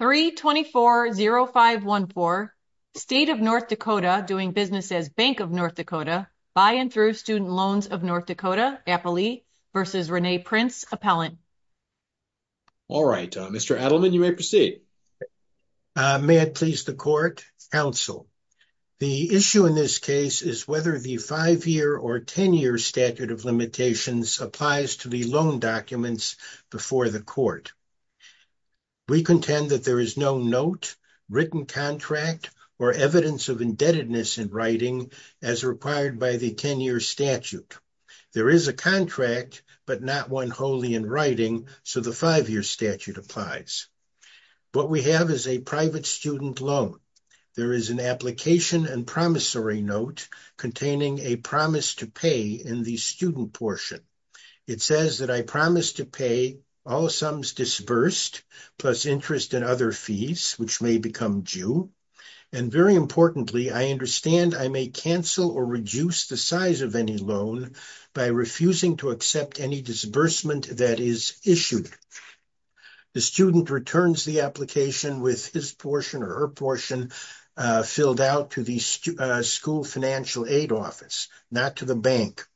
324-0514, State of North Dakota doing business as Bank of North Dakota, by and through student loans of North Dakota, Appley v. Rene Prince, Appellant. All right, Mr. Adleman, you may proceed. May it please the Court, Counsel. The issue in this case is whether the five-year or ten-year statute of limitations applies to the loan documents before the Court. We contend that there is no note, written contract, or evidence of indebtedness in writing as required by the ten-year statute. There is a contract, but not one wholly in writing, so the five-year statute applies. What we have is a private student loan. There is an application and promissory note containing a promise to pay in the student portion. It says that I promise to pay all sums disbursed, plus interest and other fees, which may become due, and very importantly, I understand I may cancel or reduce the size of any loan by refusing to accept any disbursement that is issued. The student returns the application with his portion or her portion filled out to the school financial aid office, not to the bank.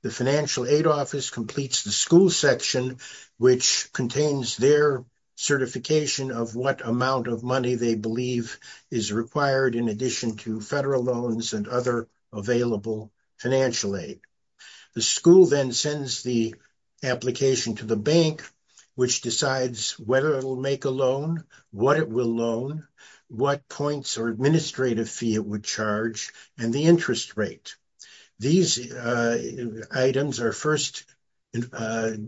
The financial aid office completes the school section, which contains their certification of what amount of money they believe is required in addition to federal loans and other available financial aid. The school then sends the application to the bank, which decides whether it will make a loan, what it will loan, what points or administrative fee it would charge, and the interest rate. These items are first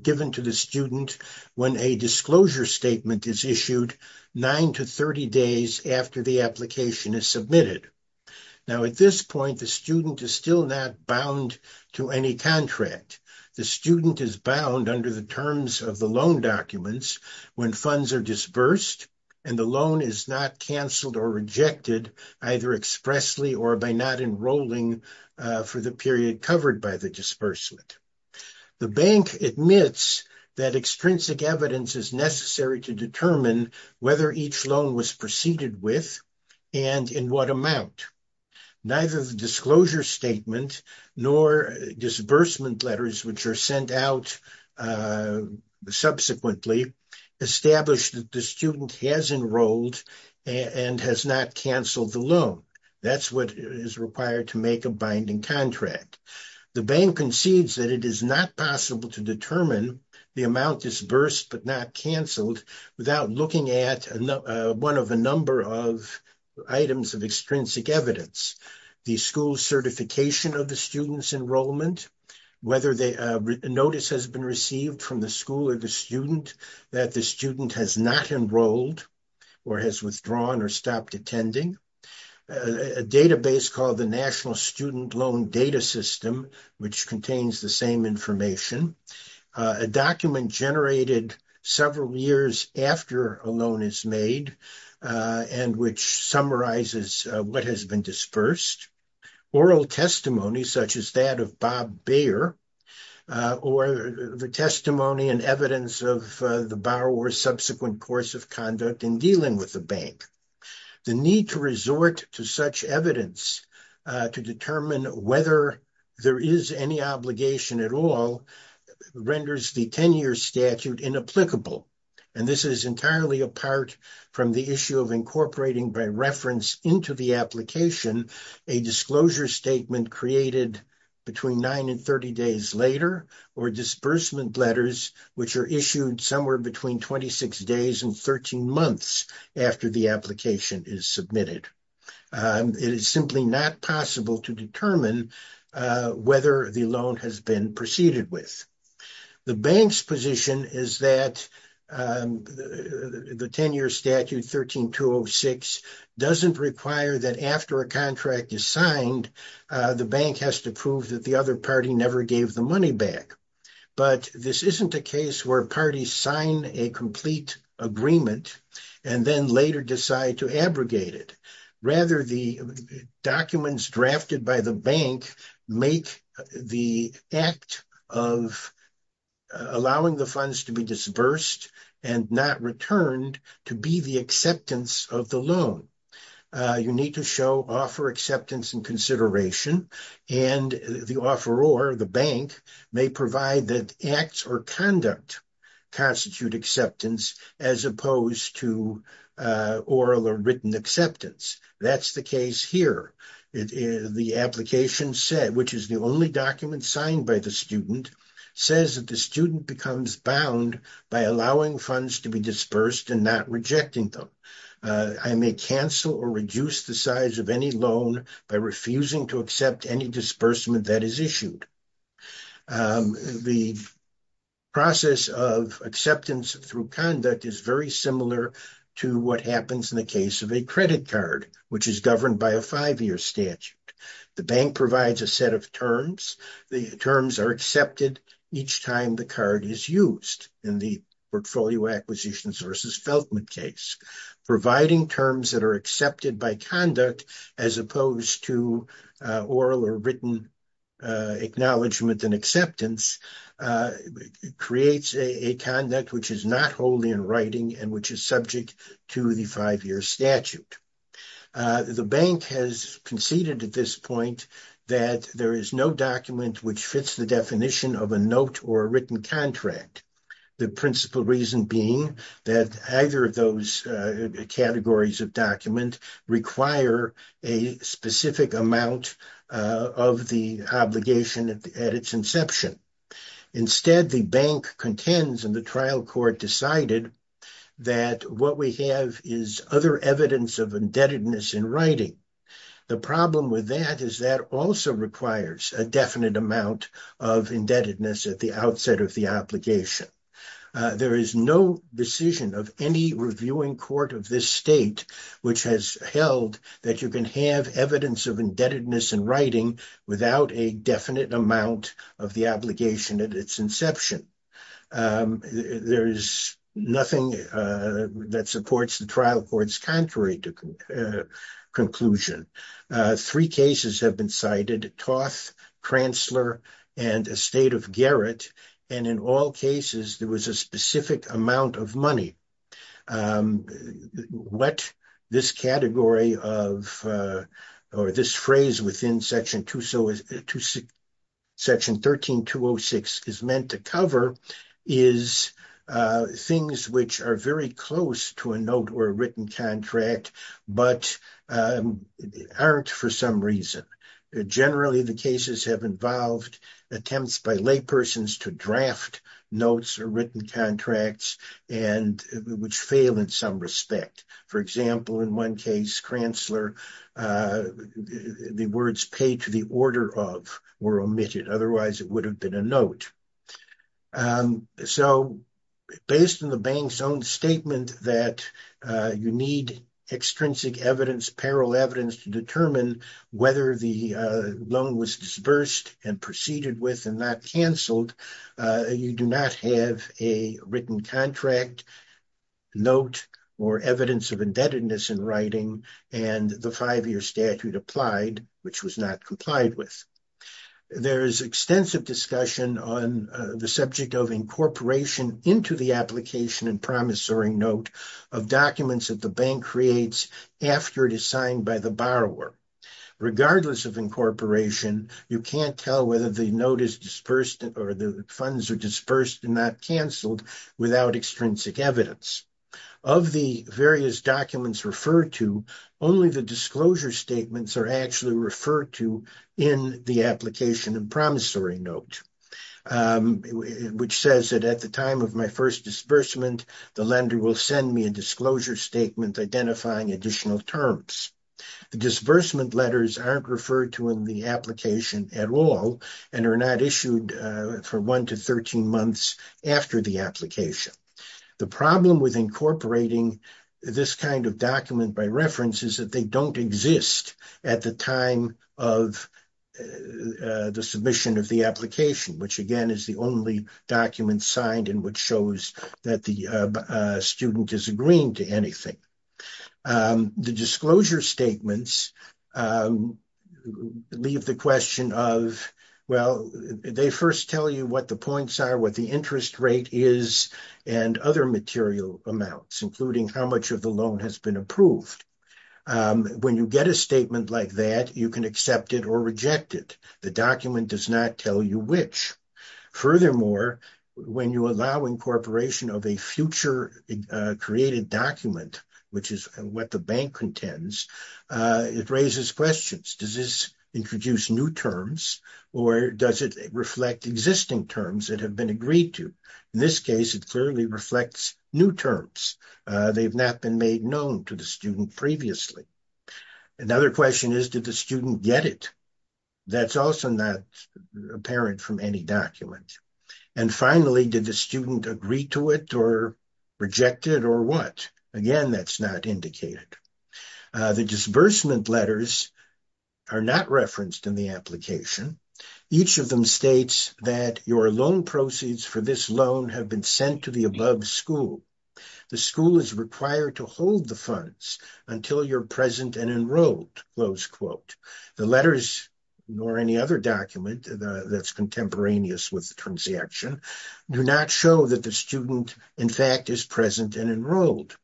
given to the student when a disclosure statement is issued nine to 30 days after the application is submitted. Now, at this point, the student is still not bound to any contract. The student is bound under the terms of the loan documents when funds are disbursed and the loan is not cancelled or rejected either expressly or by not enrolling for the period covered by the disbursement. The bank admits that extrinsic evidence is necessary to determine whether each loan was proceeded with and in what amount. Neither the disclosure statement nor disbursement letters, which are sent out subsequently, establish that the student has enrolled and has not cancelled the loan. That's what is required to make a binding contract. The bank concedes that it is not possible to determine the amount disbursed but not cancelled without looking at one of a number of items of extrinsic evidence. The school's certification of the student's enrollment, whether a notice has been received from the school or the student that the student has not enrolled or has withdrawn or stopped attending. A database called the National Student Loan Data System, which contains the same information. A document generated several years after a loan is made and which summarizes what has been dispersed. Oral testimony such as that of Bob Bayer or the testimony and evidence of the borrower's subsequent course of conduct in dealing with the bank. The need to resort to such evidence to determine whether there is any obligation at all renders the 10-year statute inapplicable. And this is entirely apart from the issue of incorporating by reference into the application a disclosure statement created between 9 and 30 days later or disbursement letters which are issued somewhere between 26 days and 13 months after the application is submitted. It is simply not possible to determine whether the loan has been proceeded with. The bank's position is that the 10-year statute 13-206 doesn't require that after a contract is signed the bank has to prove that the other party never gave the money back. But this isn't a case where parties sign a complete agreement and then later decide to abrogate it. Rather, the documents to be disbursed and not returned to be the acceptance of the loan. You need to show offer acceptance and consideration and the offeror, the bank, may provide that acts or conduct constitute acceptance as opposed to oral or written acceptance. That's the case here. The application said, which is the only document signed by the student, says that the student becomes bound by allowing funds to be disbursed and not rejecting them. I may cancel or reduce the size of any loan by refusing to accept any disbursement that is issued. The process of acceptance through conduct is very similar to what happens in the case of a credit card which is governed by a five-year statute. The bank provides a set of terms. The terms are accepted each time the card is used in the portfolio acquisitions versus Feltman case. Providing terms that are accepted by conduct as opposed to oral or written acknowledgement and acceptance creates a conduct which is not wholly in writing and which is the definition of a note or written contract. The principle reason being that either of those categories of document require a specific amount of the obligation at its inception. Instead, the bank contends and the trial court decided that what we have is other evidence of writing. The problem with that is that also requires a definite amount of indebtedness at the outset of the obligation. There is no decision of any reviewing court of this state which has held that you can have evidence of indebtedness in writing without a definite amount of the at its inception. There is nothing that supports the trial court's contrary to conclusion. Three cases have been cited, Toth, Transler, and Estate of Garrett, and in all cases there was a specific amount of money. What this category of or this phrase in section 13-206 is meant to cover is things which are very close to a note or a written contract but aren't for some reason. Generally, the cases have involved attempts by laypersons to draft notes or written contracts and which fail in some respect. For example, in one case, Transler, the words paid to the order of were omitted. Otherwise, it would have been a note. Based on the bank's own statement that you need extrinsic evidence, parallel evidence to determine whether the loan was disbursed and proceeded with and not canceled, you do not have a written contract note or evidence of indebtedness in writing and the five-year statute applied, which was not complied with. There is extensive discussion on the subject of incorporation into the application and promissory note of documents that the bank creates after it is signed by the borrower. Regardless of incorporation, you can't tell whether the note is disbursed or the funds are disbursed and not canceled without extrinsic evidence. Of the various documents referred to, only the disclosure statements are actually referred to in the application and promissory note, which says that at the time of my first disbursement, the lender will send me a disclosure statement identifying additional terms. The disbursement letters aren't referred to in the at all and are not issued for one to 13 months after the application. The problem with incorporating this kind of document by reference is that they don't exist at the time of the submission of the application, which again is the only document signed and which shows that the student is to anything. The disclosure statements leave the question of, well, they first tell you what the points are, what the interest rate is, and other material amounts, including how much of the loan has been approved. When you get a statement like that, you can accept it or reject it. The document does not tell you which. Furthermore, when you allow incorporation of a future created document, which is what the bank contends, it raises questions. Does this introduce new terms or does it reflect existing terms that have been agreed to? In this case, it clearly reflects new terms. They've not been made known to the student previously. Another question is, did the student get it? That's also not apparent from any document. Finally, did the student agree to it or reject it or what? Again, that's not indicated. The disbursement letters are not referenced in the application. Each of them states that your loan proceeds for this loan have been sent to the above school. The school is required to hold the funds until you're present and enrolled. The letters, nor any other document that's contemporaneous with the transaction, do not show that the student, in fact, is present and enrolled.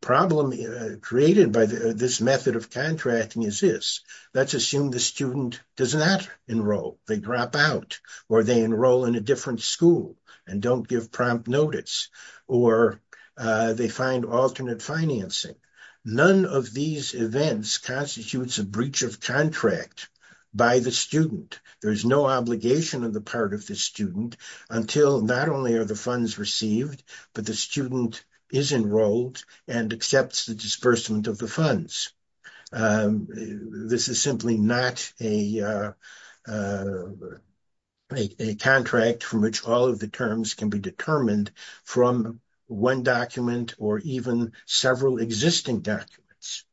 The problem created by this method of contracting is this. Let's assume the student does not enroll. They drop out or they enroll in a different school and don't give prompt notice or they find alternate financing. None of these events constitutes a breach of contract by the student. There is no obligation on the part of the student until not only are the funds received, but the student is enrolled and accepts the disbursement of the funds. This is simply not a contract from which all of the terms can be from one document or even several existing documents.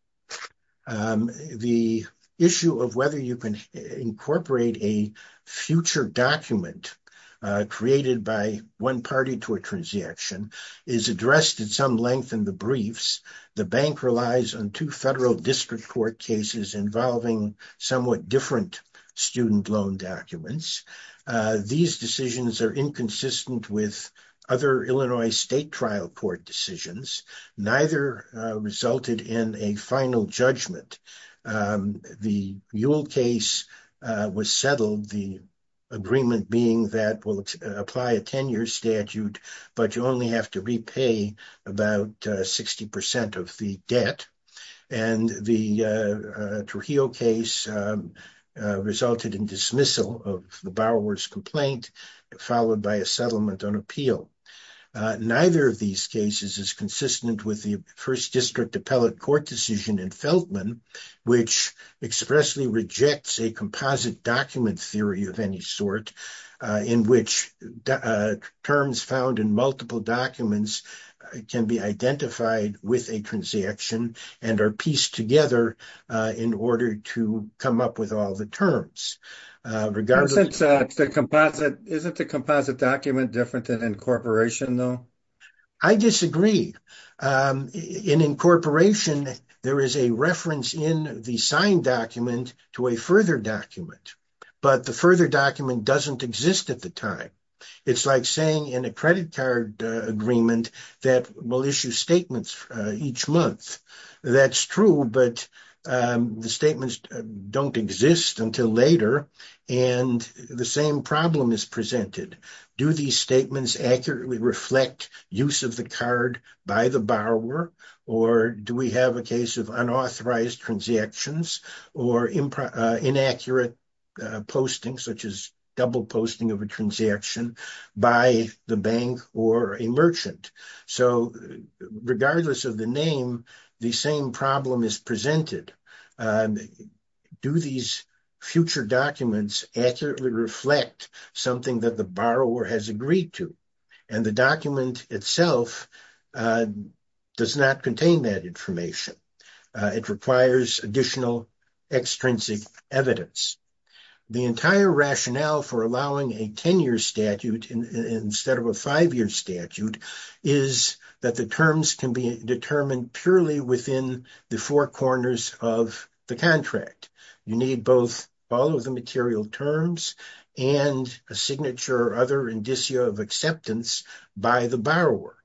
The issue of whether you can incorporate a future document created by one party to a transaction is addressed at some length in the briefs. The bank relies on two federal district court cases involving somewhat different student documents. These decisions are inconsistent with other Illinois state trial court decisions. Neither resulted in a final judgment. The Yule case was settled, the agreement being that we'll apply a 10-year statute, but you only have to repay about 60% of the debt. The Trujillo case resulted in dismissal of the borrower's complaint, followed by a settlement on appeal. Neither of these cases is consistent with the first district appellate court decision in Feltman, which expressly rejects a composite document theory of any sort in which terms found in documents can be identified with a transaction and are pieced together in order to come up with all the terms. Isn't the composite document different than incorporation, though? I disagree. In incorporation, there is a reference in the signed document to a further document, but the further document doesn't exist at the time. It's like saying in a credit card agreement that we'll issue statements each month. That's true, but the statements don't exist until later, and the same problem is presented. Do these statements accurately reflect use of the card by borrower, or do we have a case of unauthorized transactions or inaccurate posting, such as double posting of a transaction by the bank or a merchant? Regardless of the name, the same problem is presented. Do these future documents accurately reflect something that the has agreed to? The document itself does not contain that information. It requires additional extrinsic evidence. The entire rationale for allowing a 10-year statute instead of a five-year statute is that the terms can be determined purely within the four corners of the contract. You need both all of the material terms and a signature or other indicio of acceptance by the borrower.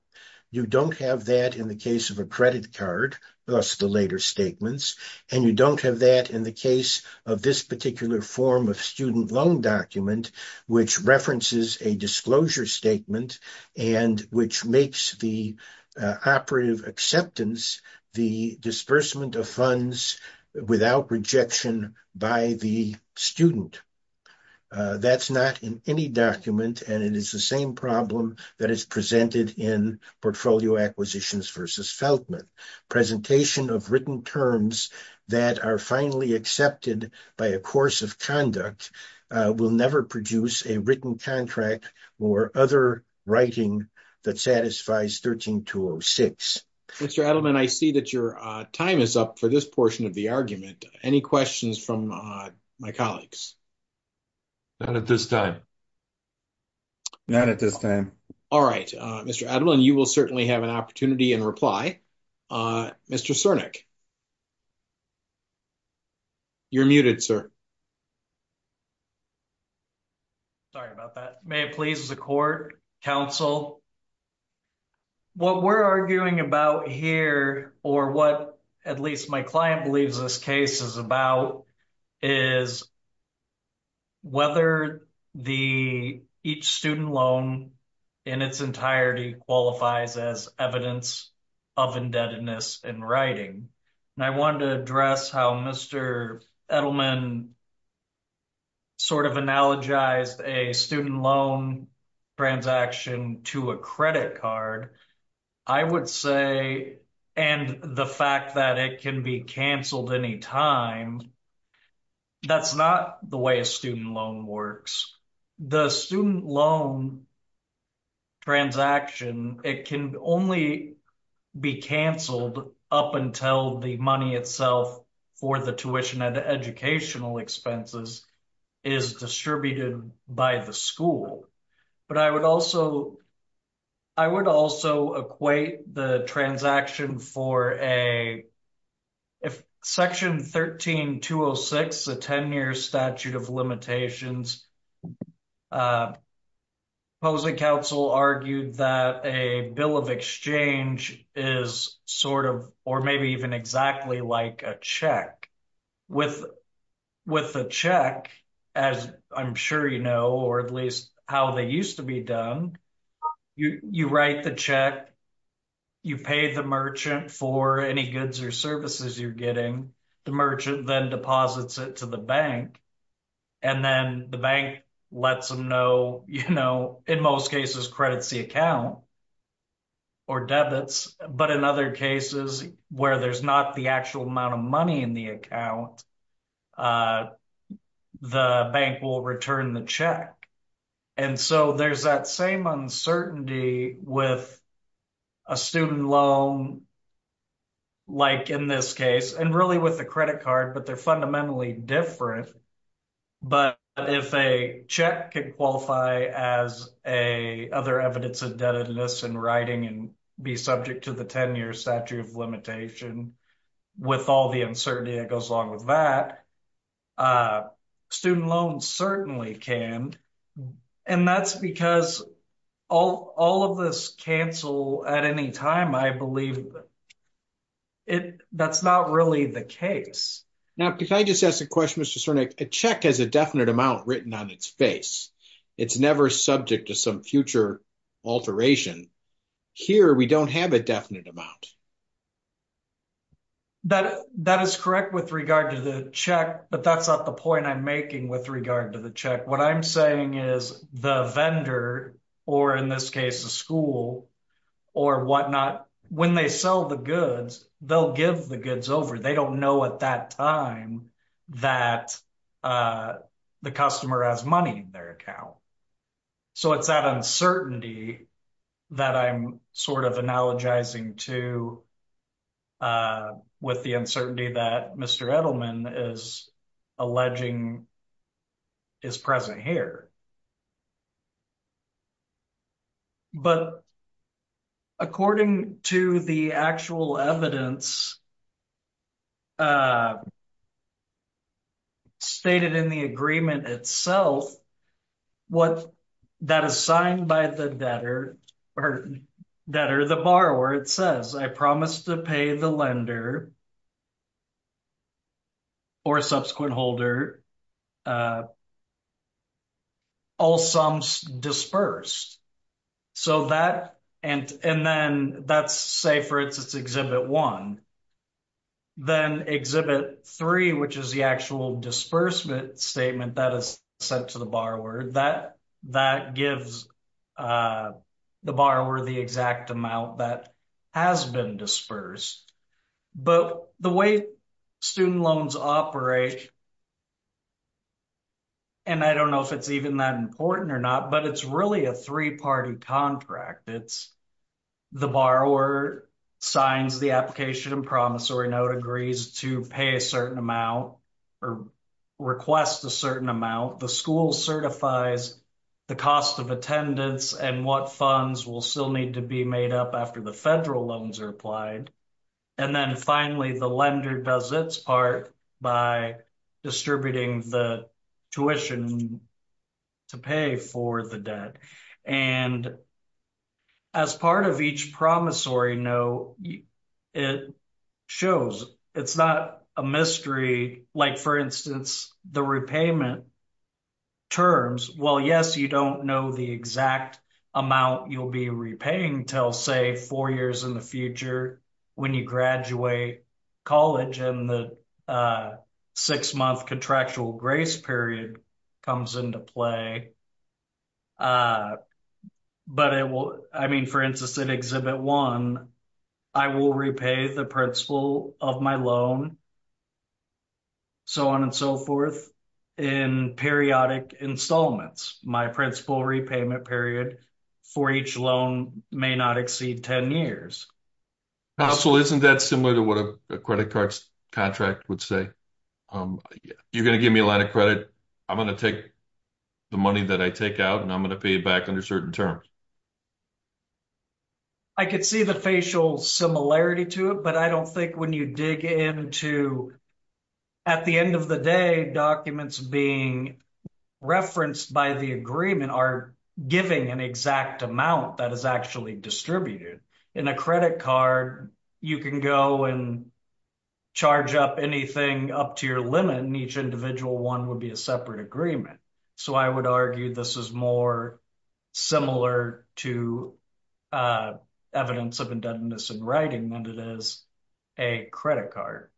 You don't have that in the case of a credit card, thus the later statements, and you don't have that in the case of this particular form of student loan document, which references a disclosure statement and which makes the operative acceptance, the disbursement of funds without rejection by the student. That's not in any document, and it is the same problem that is presented in portfolio acquisitions versus Feltman. Presentation of written terms that are finally accepted by a course of conduct will never produce a written contract or other writing that satisfies 13-206. Mr. Edelman, I see that your time is up for this portion of the argument. Any questions from my colleagues? Not at this time. Not at this time. All right, Mr. Edelman, you will certainly have an opportunity in reply. Mr. Cernich, you're muted, sir. Sorry about that. May it please the Court, counsel. What we're arguing about here, or what at least my client believes this case is about, is whether each student loan in its entirety qualifies as evidence of indebtedness in writing. I wanted to address how Mr. Edelman analogized a student loan transaction to a credit card. I would say, and the fact that it can be canceled anytime, that's not the way a student loan works. The student loan transaction, it can only be canceled up until the money itself for the tuition and educational expenses is distributed by the school. But I would also equate the for a, if Section 13-206, the 10-year statute of limitations, opposing counsel argued that a bill of exchange is sort of, or maybe even exactly like a check. With a check, as I'm sure you know, or at least how they used to be done, you write the check, you pay the merchant for any goods or services you're getting, the merchant then deposits it to the bank, and then the bank lets them know, you know, in most cases credits the account or debits, but in other cases where there's not the actual amount of money in the account, the bank will return the check. And so there's that same uncertainty with a student loan, like in this case, and really with the credit card, but they're fundamentally different. But if a check could qualify as other evidence of debtedness in writing and be subject to the uncertainty that goes along with that, student loans certainly can. And that's because all of this cancel at any time, I believe that's not really the case. Now, can I just ask a question, Mr. Cernick? A check has a definite amount written on its face. It's never subject to some future alteration. Here, we don't have a definite amount. That is correct with regard to the check, but that's not the point I'm making with regard to the check. What I'm saying is the vendor, or in this case, the school or whatnot, when they sell the goods, they'll give the goods over. They don't know at that time that the customer has money in So it's that uncertainty that I'm sort of analogizing to with the uncertainty that Mr. Edelman is alleging is present here. But according to the actual evidence stated in the agreement itself, that is signed by the debtor or the borrower, it says, I promise to pay the lender or subsequent holder all sums disbursed. So that, and then that's, say, for instance, Exhibit 1. Then Exhibit 3, which is the actual disbursement statement that is sent to the borrower, that gives the borrower the exact amount that has been disbursed. But the way student loans operate, and I don't know if it's even that important or not, but it's really a three-party contract. It's the borrower signs the application and promissory note, agrees to pay a certain amount or request a certain amount. The school certifies the cost of attendance and what funds will still need to be made up after the federal loans are applied. And then finally, the lender does its part by distributing the tuition to pay for the debt. And as part of each promissory note, it shows, it's not a mystery, like, for instance, the repayment terms. Well, yes, you don't know the exact amount you'll be repaying until, say, four years in the future when you graduate college and the six-month contractual grace period comes into play. But it will, I mean, for instance, in Exhibit 1, I will repay the principal of my loan, so on and so forth, in periodic installments. My principal repayment period for each loan may not exceed 10 years. Counsel, isn't that similar to what a credit card contract would say? You're going to give me a line of credit. I'm going to take the money that I take out, and I'm going to pay it back under certain terms. I could see the facial similarity to it, but I don't think when you dig into, at the end of the day, documents being referenced by the agreement are giving an exact amount that is actually distributed. In a credit card, you can go and charge up anything up to your limit, and each individual one would be a separate agreement. So I would argue this is more similar to evidence of indebtedness in writing than it is a credit card.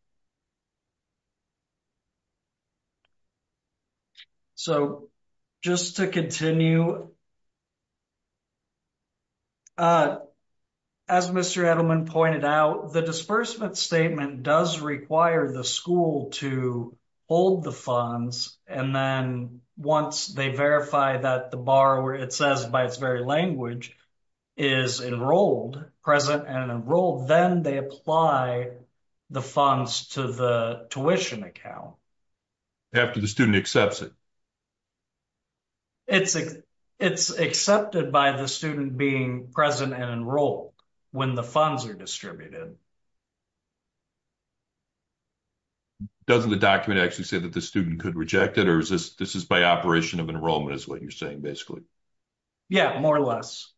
So, just to continue, as Mr. Edelman pointed out, the disbursement statement does require the school to hold the funds, and then once they verify that the borrower, it says by its very language, is enrolled, present and enrolled, then they apply the funds to the tuition account. After the student accepts it? It's accepted by the student being present and enrolled when the funds are distributed. Doesn't the document actually say that the student could reject it, or is this this is by operation of enrollment is what you're saying basically? Yeah, more or less.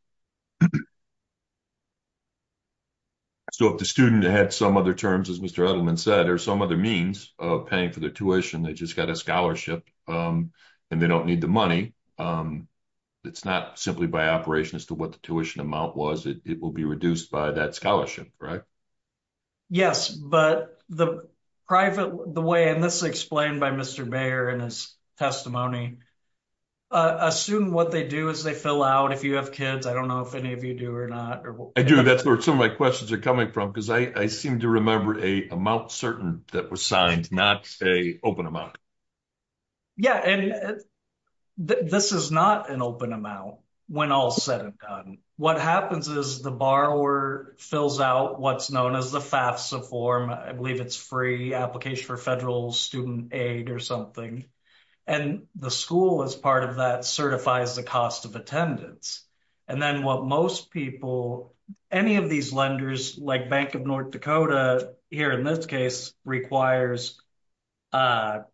So if the student had some other terms, as Mr. Edelman said, or some other means of paying for their tuition, they just got a scholarship, and they don't need the money, it's not simply by operation as to what the tuition amount was, it will be reduced by that scholarship, right? Yes, but the private, the way, and this is explained by Mr. Mayer in his testimony, a student, what they do is they fill out, if you have kids, I don't know if any of you do or not, I do, that's where some of my questions are coming from, because I seem to remember a amount certain that was signed, not a open amount. Yeah, and this is not an open amount, when all is said and done. What happens is the borrower fills out what's known as the FAFSA form, I believe it's Free Application for Federal Student Aid or something, and the school as part of that certifies the cost of attendance, and then what most people, any of these lenders, like Bank of North Dakota, here in this case, requires, well, I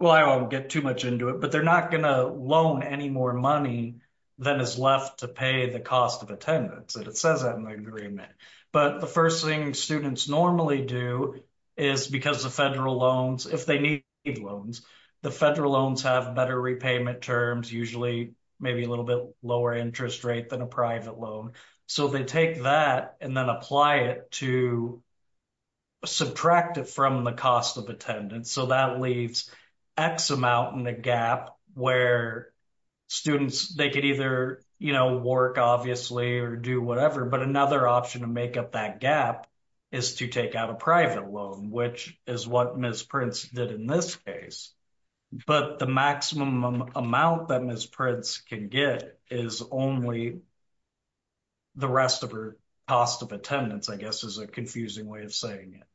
won't get too much into it, but they're not gonna loan any more money than is left to pay the cost of attendance, and it says that in the agreement, but the first thing students normally do is, because the federal loans, if they need loans, the federal loans have better repayment terms, usually maybe a little bit lower interest rate than a private loan, so they take that and then apply it to subtract it from the cost of attendance, so that leaves X amount in the gap where students, they could either work, obviously, or do whatever, but another option to make up that gap is to take out a private loan, which is what Ms. Prince did in this case, but the maximum amount that Ms. Prince can get is only the rest of her cost of attendance, I guess is a confusing way of saying it.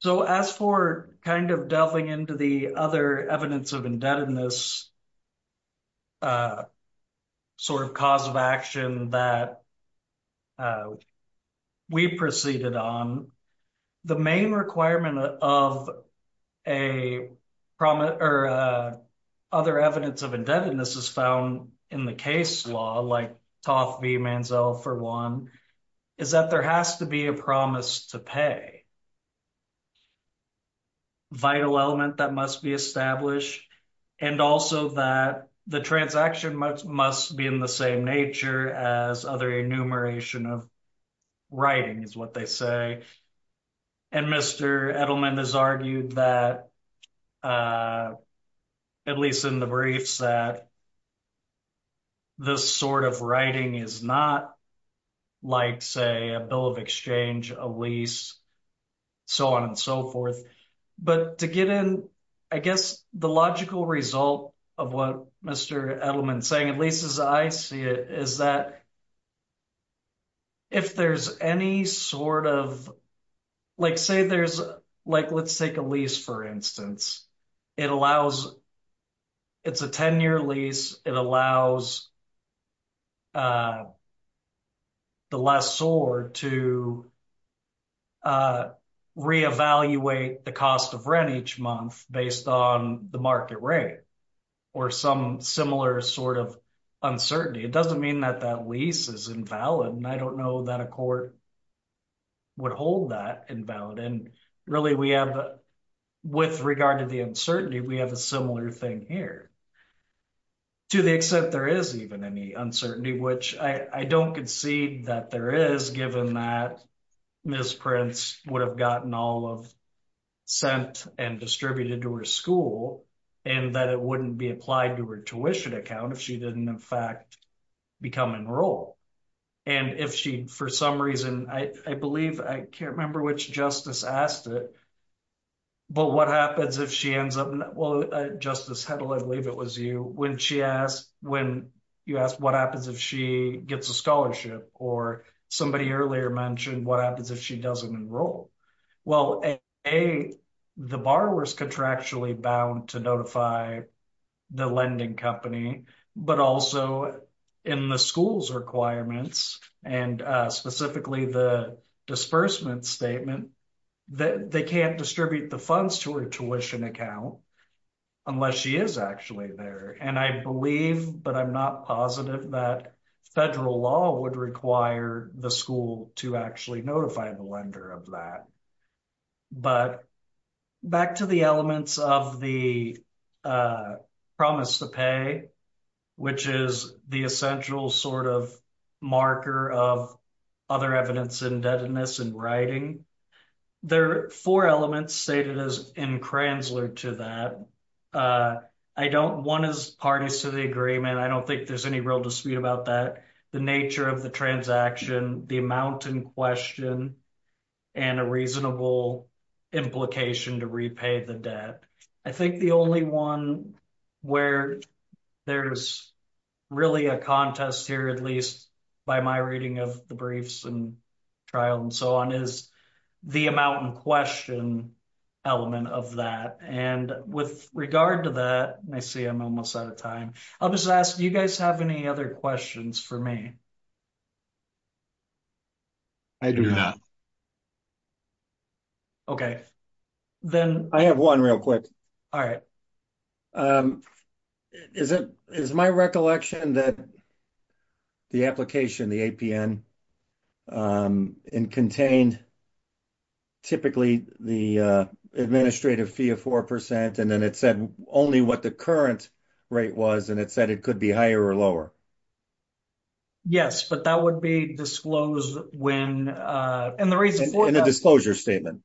So, as for kind of delving into the other evidence of indebtedness, sort of cause of action that we proceeded on, the main requirement of other evidence of indebtedness is found in the case law, like Toth v. Manziel for one, is that there has to be a promise to pay, a vital element that must be established, and also that the transaction must be in the same nature as other enumeration of writing, is what they say, and Mr. Edelman has argued that, at least in the briefs, that this sort of writing is not like, say, a bill of exchange, a lease, so on and so forth, but to get in, I guess, the logical result of what Mr. Edelman's saying, at least as I see it, is that if there's any sort of, like, say there's, like, let's take a lease, for instance, it allows, it's a 10-year lease, it allows the lessor to reevaluate the cost of rent each month based on the market rate, or some similar sort of uncertainty. It doesn't mean that that lease is invalid, and I don't know that a court would hold that invalid, and really we have, with regard to the uncertainty, we have a similar thing here, to the extent there is even any uncertainty, which I don't concede that there is, given that Ms. Prince would have gotten all of, sent and distributed to her school, and that it wouldn't be applied to her tuition account if she didn't, in fact, become enrolled, and if she, for some reason, I believe, I can't remember which justice asked it, but what happens if she ends up, well, Justice Hedlund, I believe it was you, when she asked, when you asked what happens if she gets a scholarship, or somebody earlier mentioned what happens if she doesn't enroll, well, A, the borrower's contractually bound to notify the lending company, but also in the school's requirements, and specifically the disbursement statement, that they can't distribute the funds to her tuition account unless she is actually there, and I believe, but I'm not positive that federal law would require the school to actually notify the lender of that, but back to the elements of the promise to pay, which is the essential sort of marker of other evidence indebtedness in writing, there are four elements stated as in Kranzler to that. I don't, one is parties to the agreement, I don't think there's any real dispute about that, the nature of the transaction, the amount in question, and a reasonable implication to repay the debt. I think the only one where there's really a contest here, at least by my reading of the briefs and trial and so on, is the amount in question element of that, and with regard to that, I see I'm almost out of time, I'll just ask, you guys have any other questions for me? I do not. Okay, then I have one real quick. All right. Is it, is my recollection that the application, the APN, contained typically the administrative fee of 4%, and then it said only what the current rate was, and it said it could be higher or lower? Yes, but that would be disclosed when, and the reason, in a disclosure statement.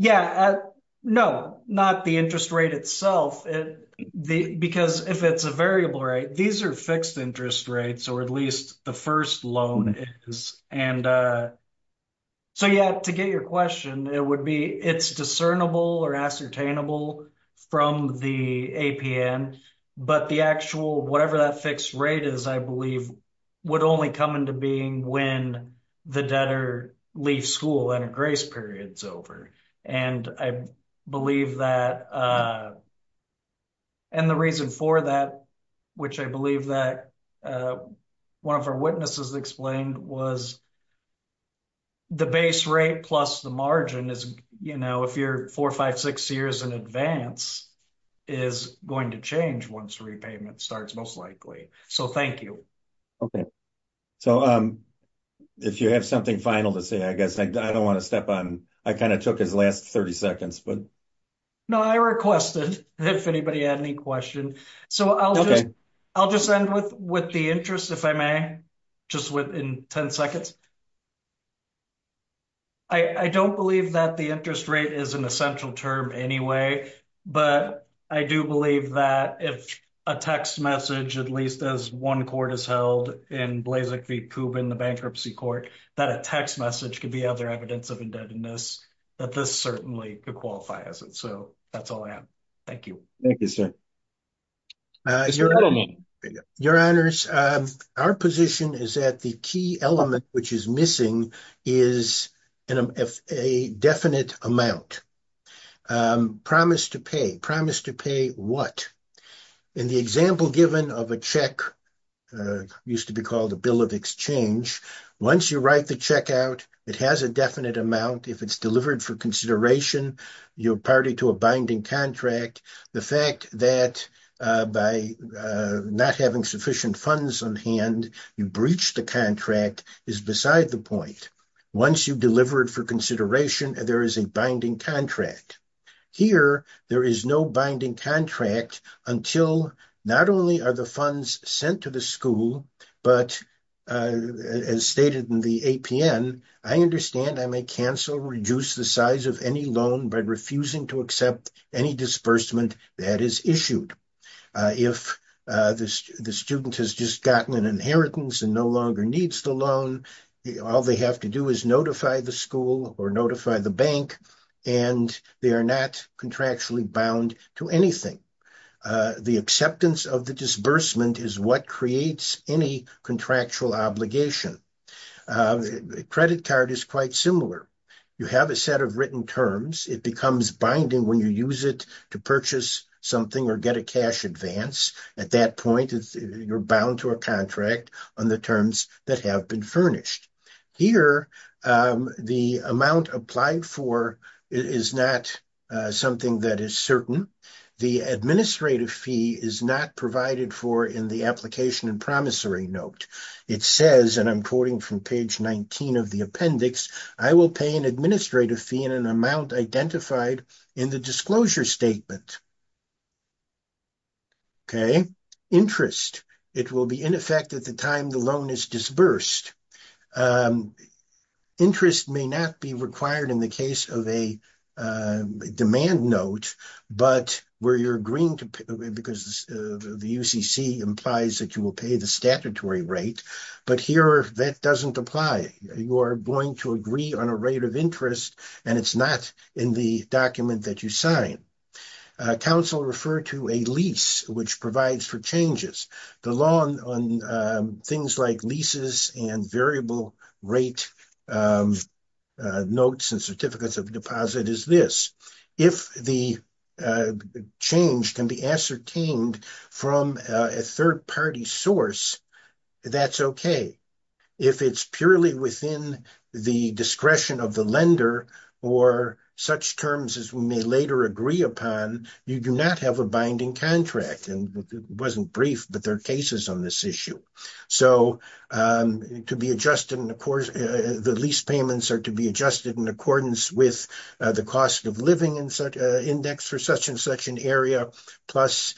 Yeah, no, not the interest rate itself, because if it's a variable rate, these are fixed interest rates, or at least the first loan is, and so yeah, to get your question, it would be, it's discernible or ascertainable from the APN, but the actual, whatever that fixed rate is, I believe, would only come into being when the debtor leaves school and a grace period's over, and I believe that, and the reason for that, which I believe that one of our witnesses explained, was the base rate plus the margin is, you know, if you're four, five, six years in advance, is going to change once repayment starts, most likely, so thank you. Okay, so if you have something final to say, I guess, I don't want to step on, I kind of took his last 30 seconds, but. No, I requested if anybody had any question, so I'll just end with the interest, if I may, just within 10 seconds. I don't believe that the interest rate is an essential term anyway, but I do believe that if a text message, at least as one court has held in Blazek v. Kubin, the bankruptcy court, that a text message could be other evidence of indebtedness, that this certainly could qualify as it, so that's all I have. Thank you. Thank you, sir. Your honors, our position is that the key element which is missing is a definite amount, promise to pay, promise to pay what? In the example given of a check, used to be called a bill of exchange, once you write the check out, it has a definite amount, if it's delivered for consideration, you're party to a binding contract. The fact that by not having sufficient funds on hand, you breach the contract is beside the point. Once you deliver it for consideration, there is a binding contract. Here, there is no binding contract until not only are the funds sent to the school, but as stated in the APN, I understand I may cancel, reduce the size of any loan by refusing to accept any disbursement that is issued. If the student has just gotten an inheritance and no longer needs the loan, all they have to do is notify the school or notify the bank, and they are not contractually bound to anything. The acceptance of the disbursement is what creates any contractual obligation. A credit card is quite similar. You have a set of written terms. It becomes binding when you use it to purchase something or get a cash advance. At that point, you're bound to a contract on the terms that have been furnished. Here, the amount applied for is not something that is certain. The administrative fee is not provided for in the application and promissory note. It says, and I'm quoting from page 19 of the appendix, I will pay an administrative fee in an amount identified in the disclosure statement. Okay, interest. It will be in effect at the time the loan is disbursed. Interest may not be required in the case of a demand note, but where you're agreeing to, because the UCC implies that you will pay the statutory rate, but here that doesn't apply. You are going to agree on a rate of interest, and it's not in the document that you sign. Counsel refer to a lease, which provides for changes. The law on things like and variable rate of notes and certificates of deposit is this. If the change can be ascertained from a third-party source, that's okay. If it's purely within the discretion of the lender or such terms as we may later agree upon, you do not have a binding contract. It wasn't brief, but there are cases on this issue. The lease payments are to be adjusted in accordance with the cost of living index for such and such an area, plus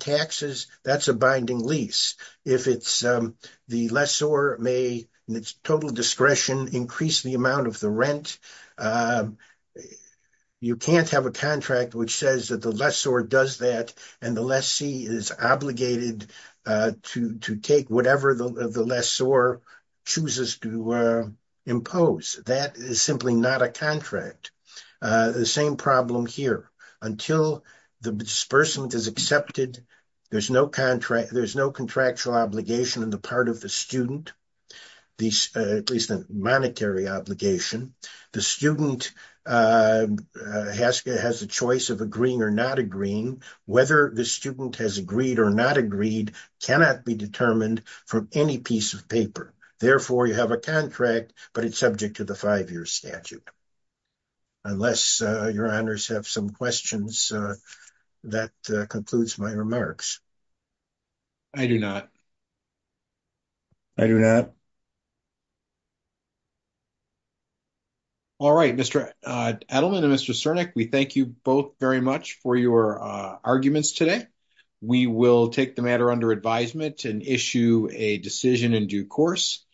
taxes. That's a binding lease. The lessor may, in its total discretion, increase the amount of the rent. You can't have a contract which says that the lessor does that, and the lessee is obligated to take whatever the lessor chooses to impose. That is simply not a contract. The same problem here. Until the disbursement is accepted, there's no contractual obligation on the part of the student, at least a monetary obligation. The student has a choice of agreeing or not agreeing. Whether the student has agreed or not agreed cannot be determined from any piece of paper. Therefore, you have a contract, but it's subject to the five-year statute. Unless your honors have some questions, that concludes my remarks. I do not. I do not. All right, Mr. Edelman and Mr. Sernick, we thank you both very much for your arguments today. We will take the matter under advisement and issue a decision in due course.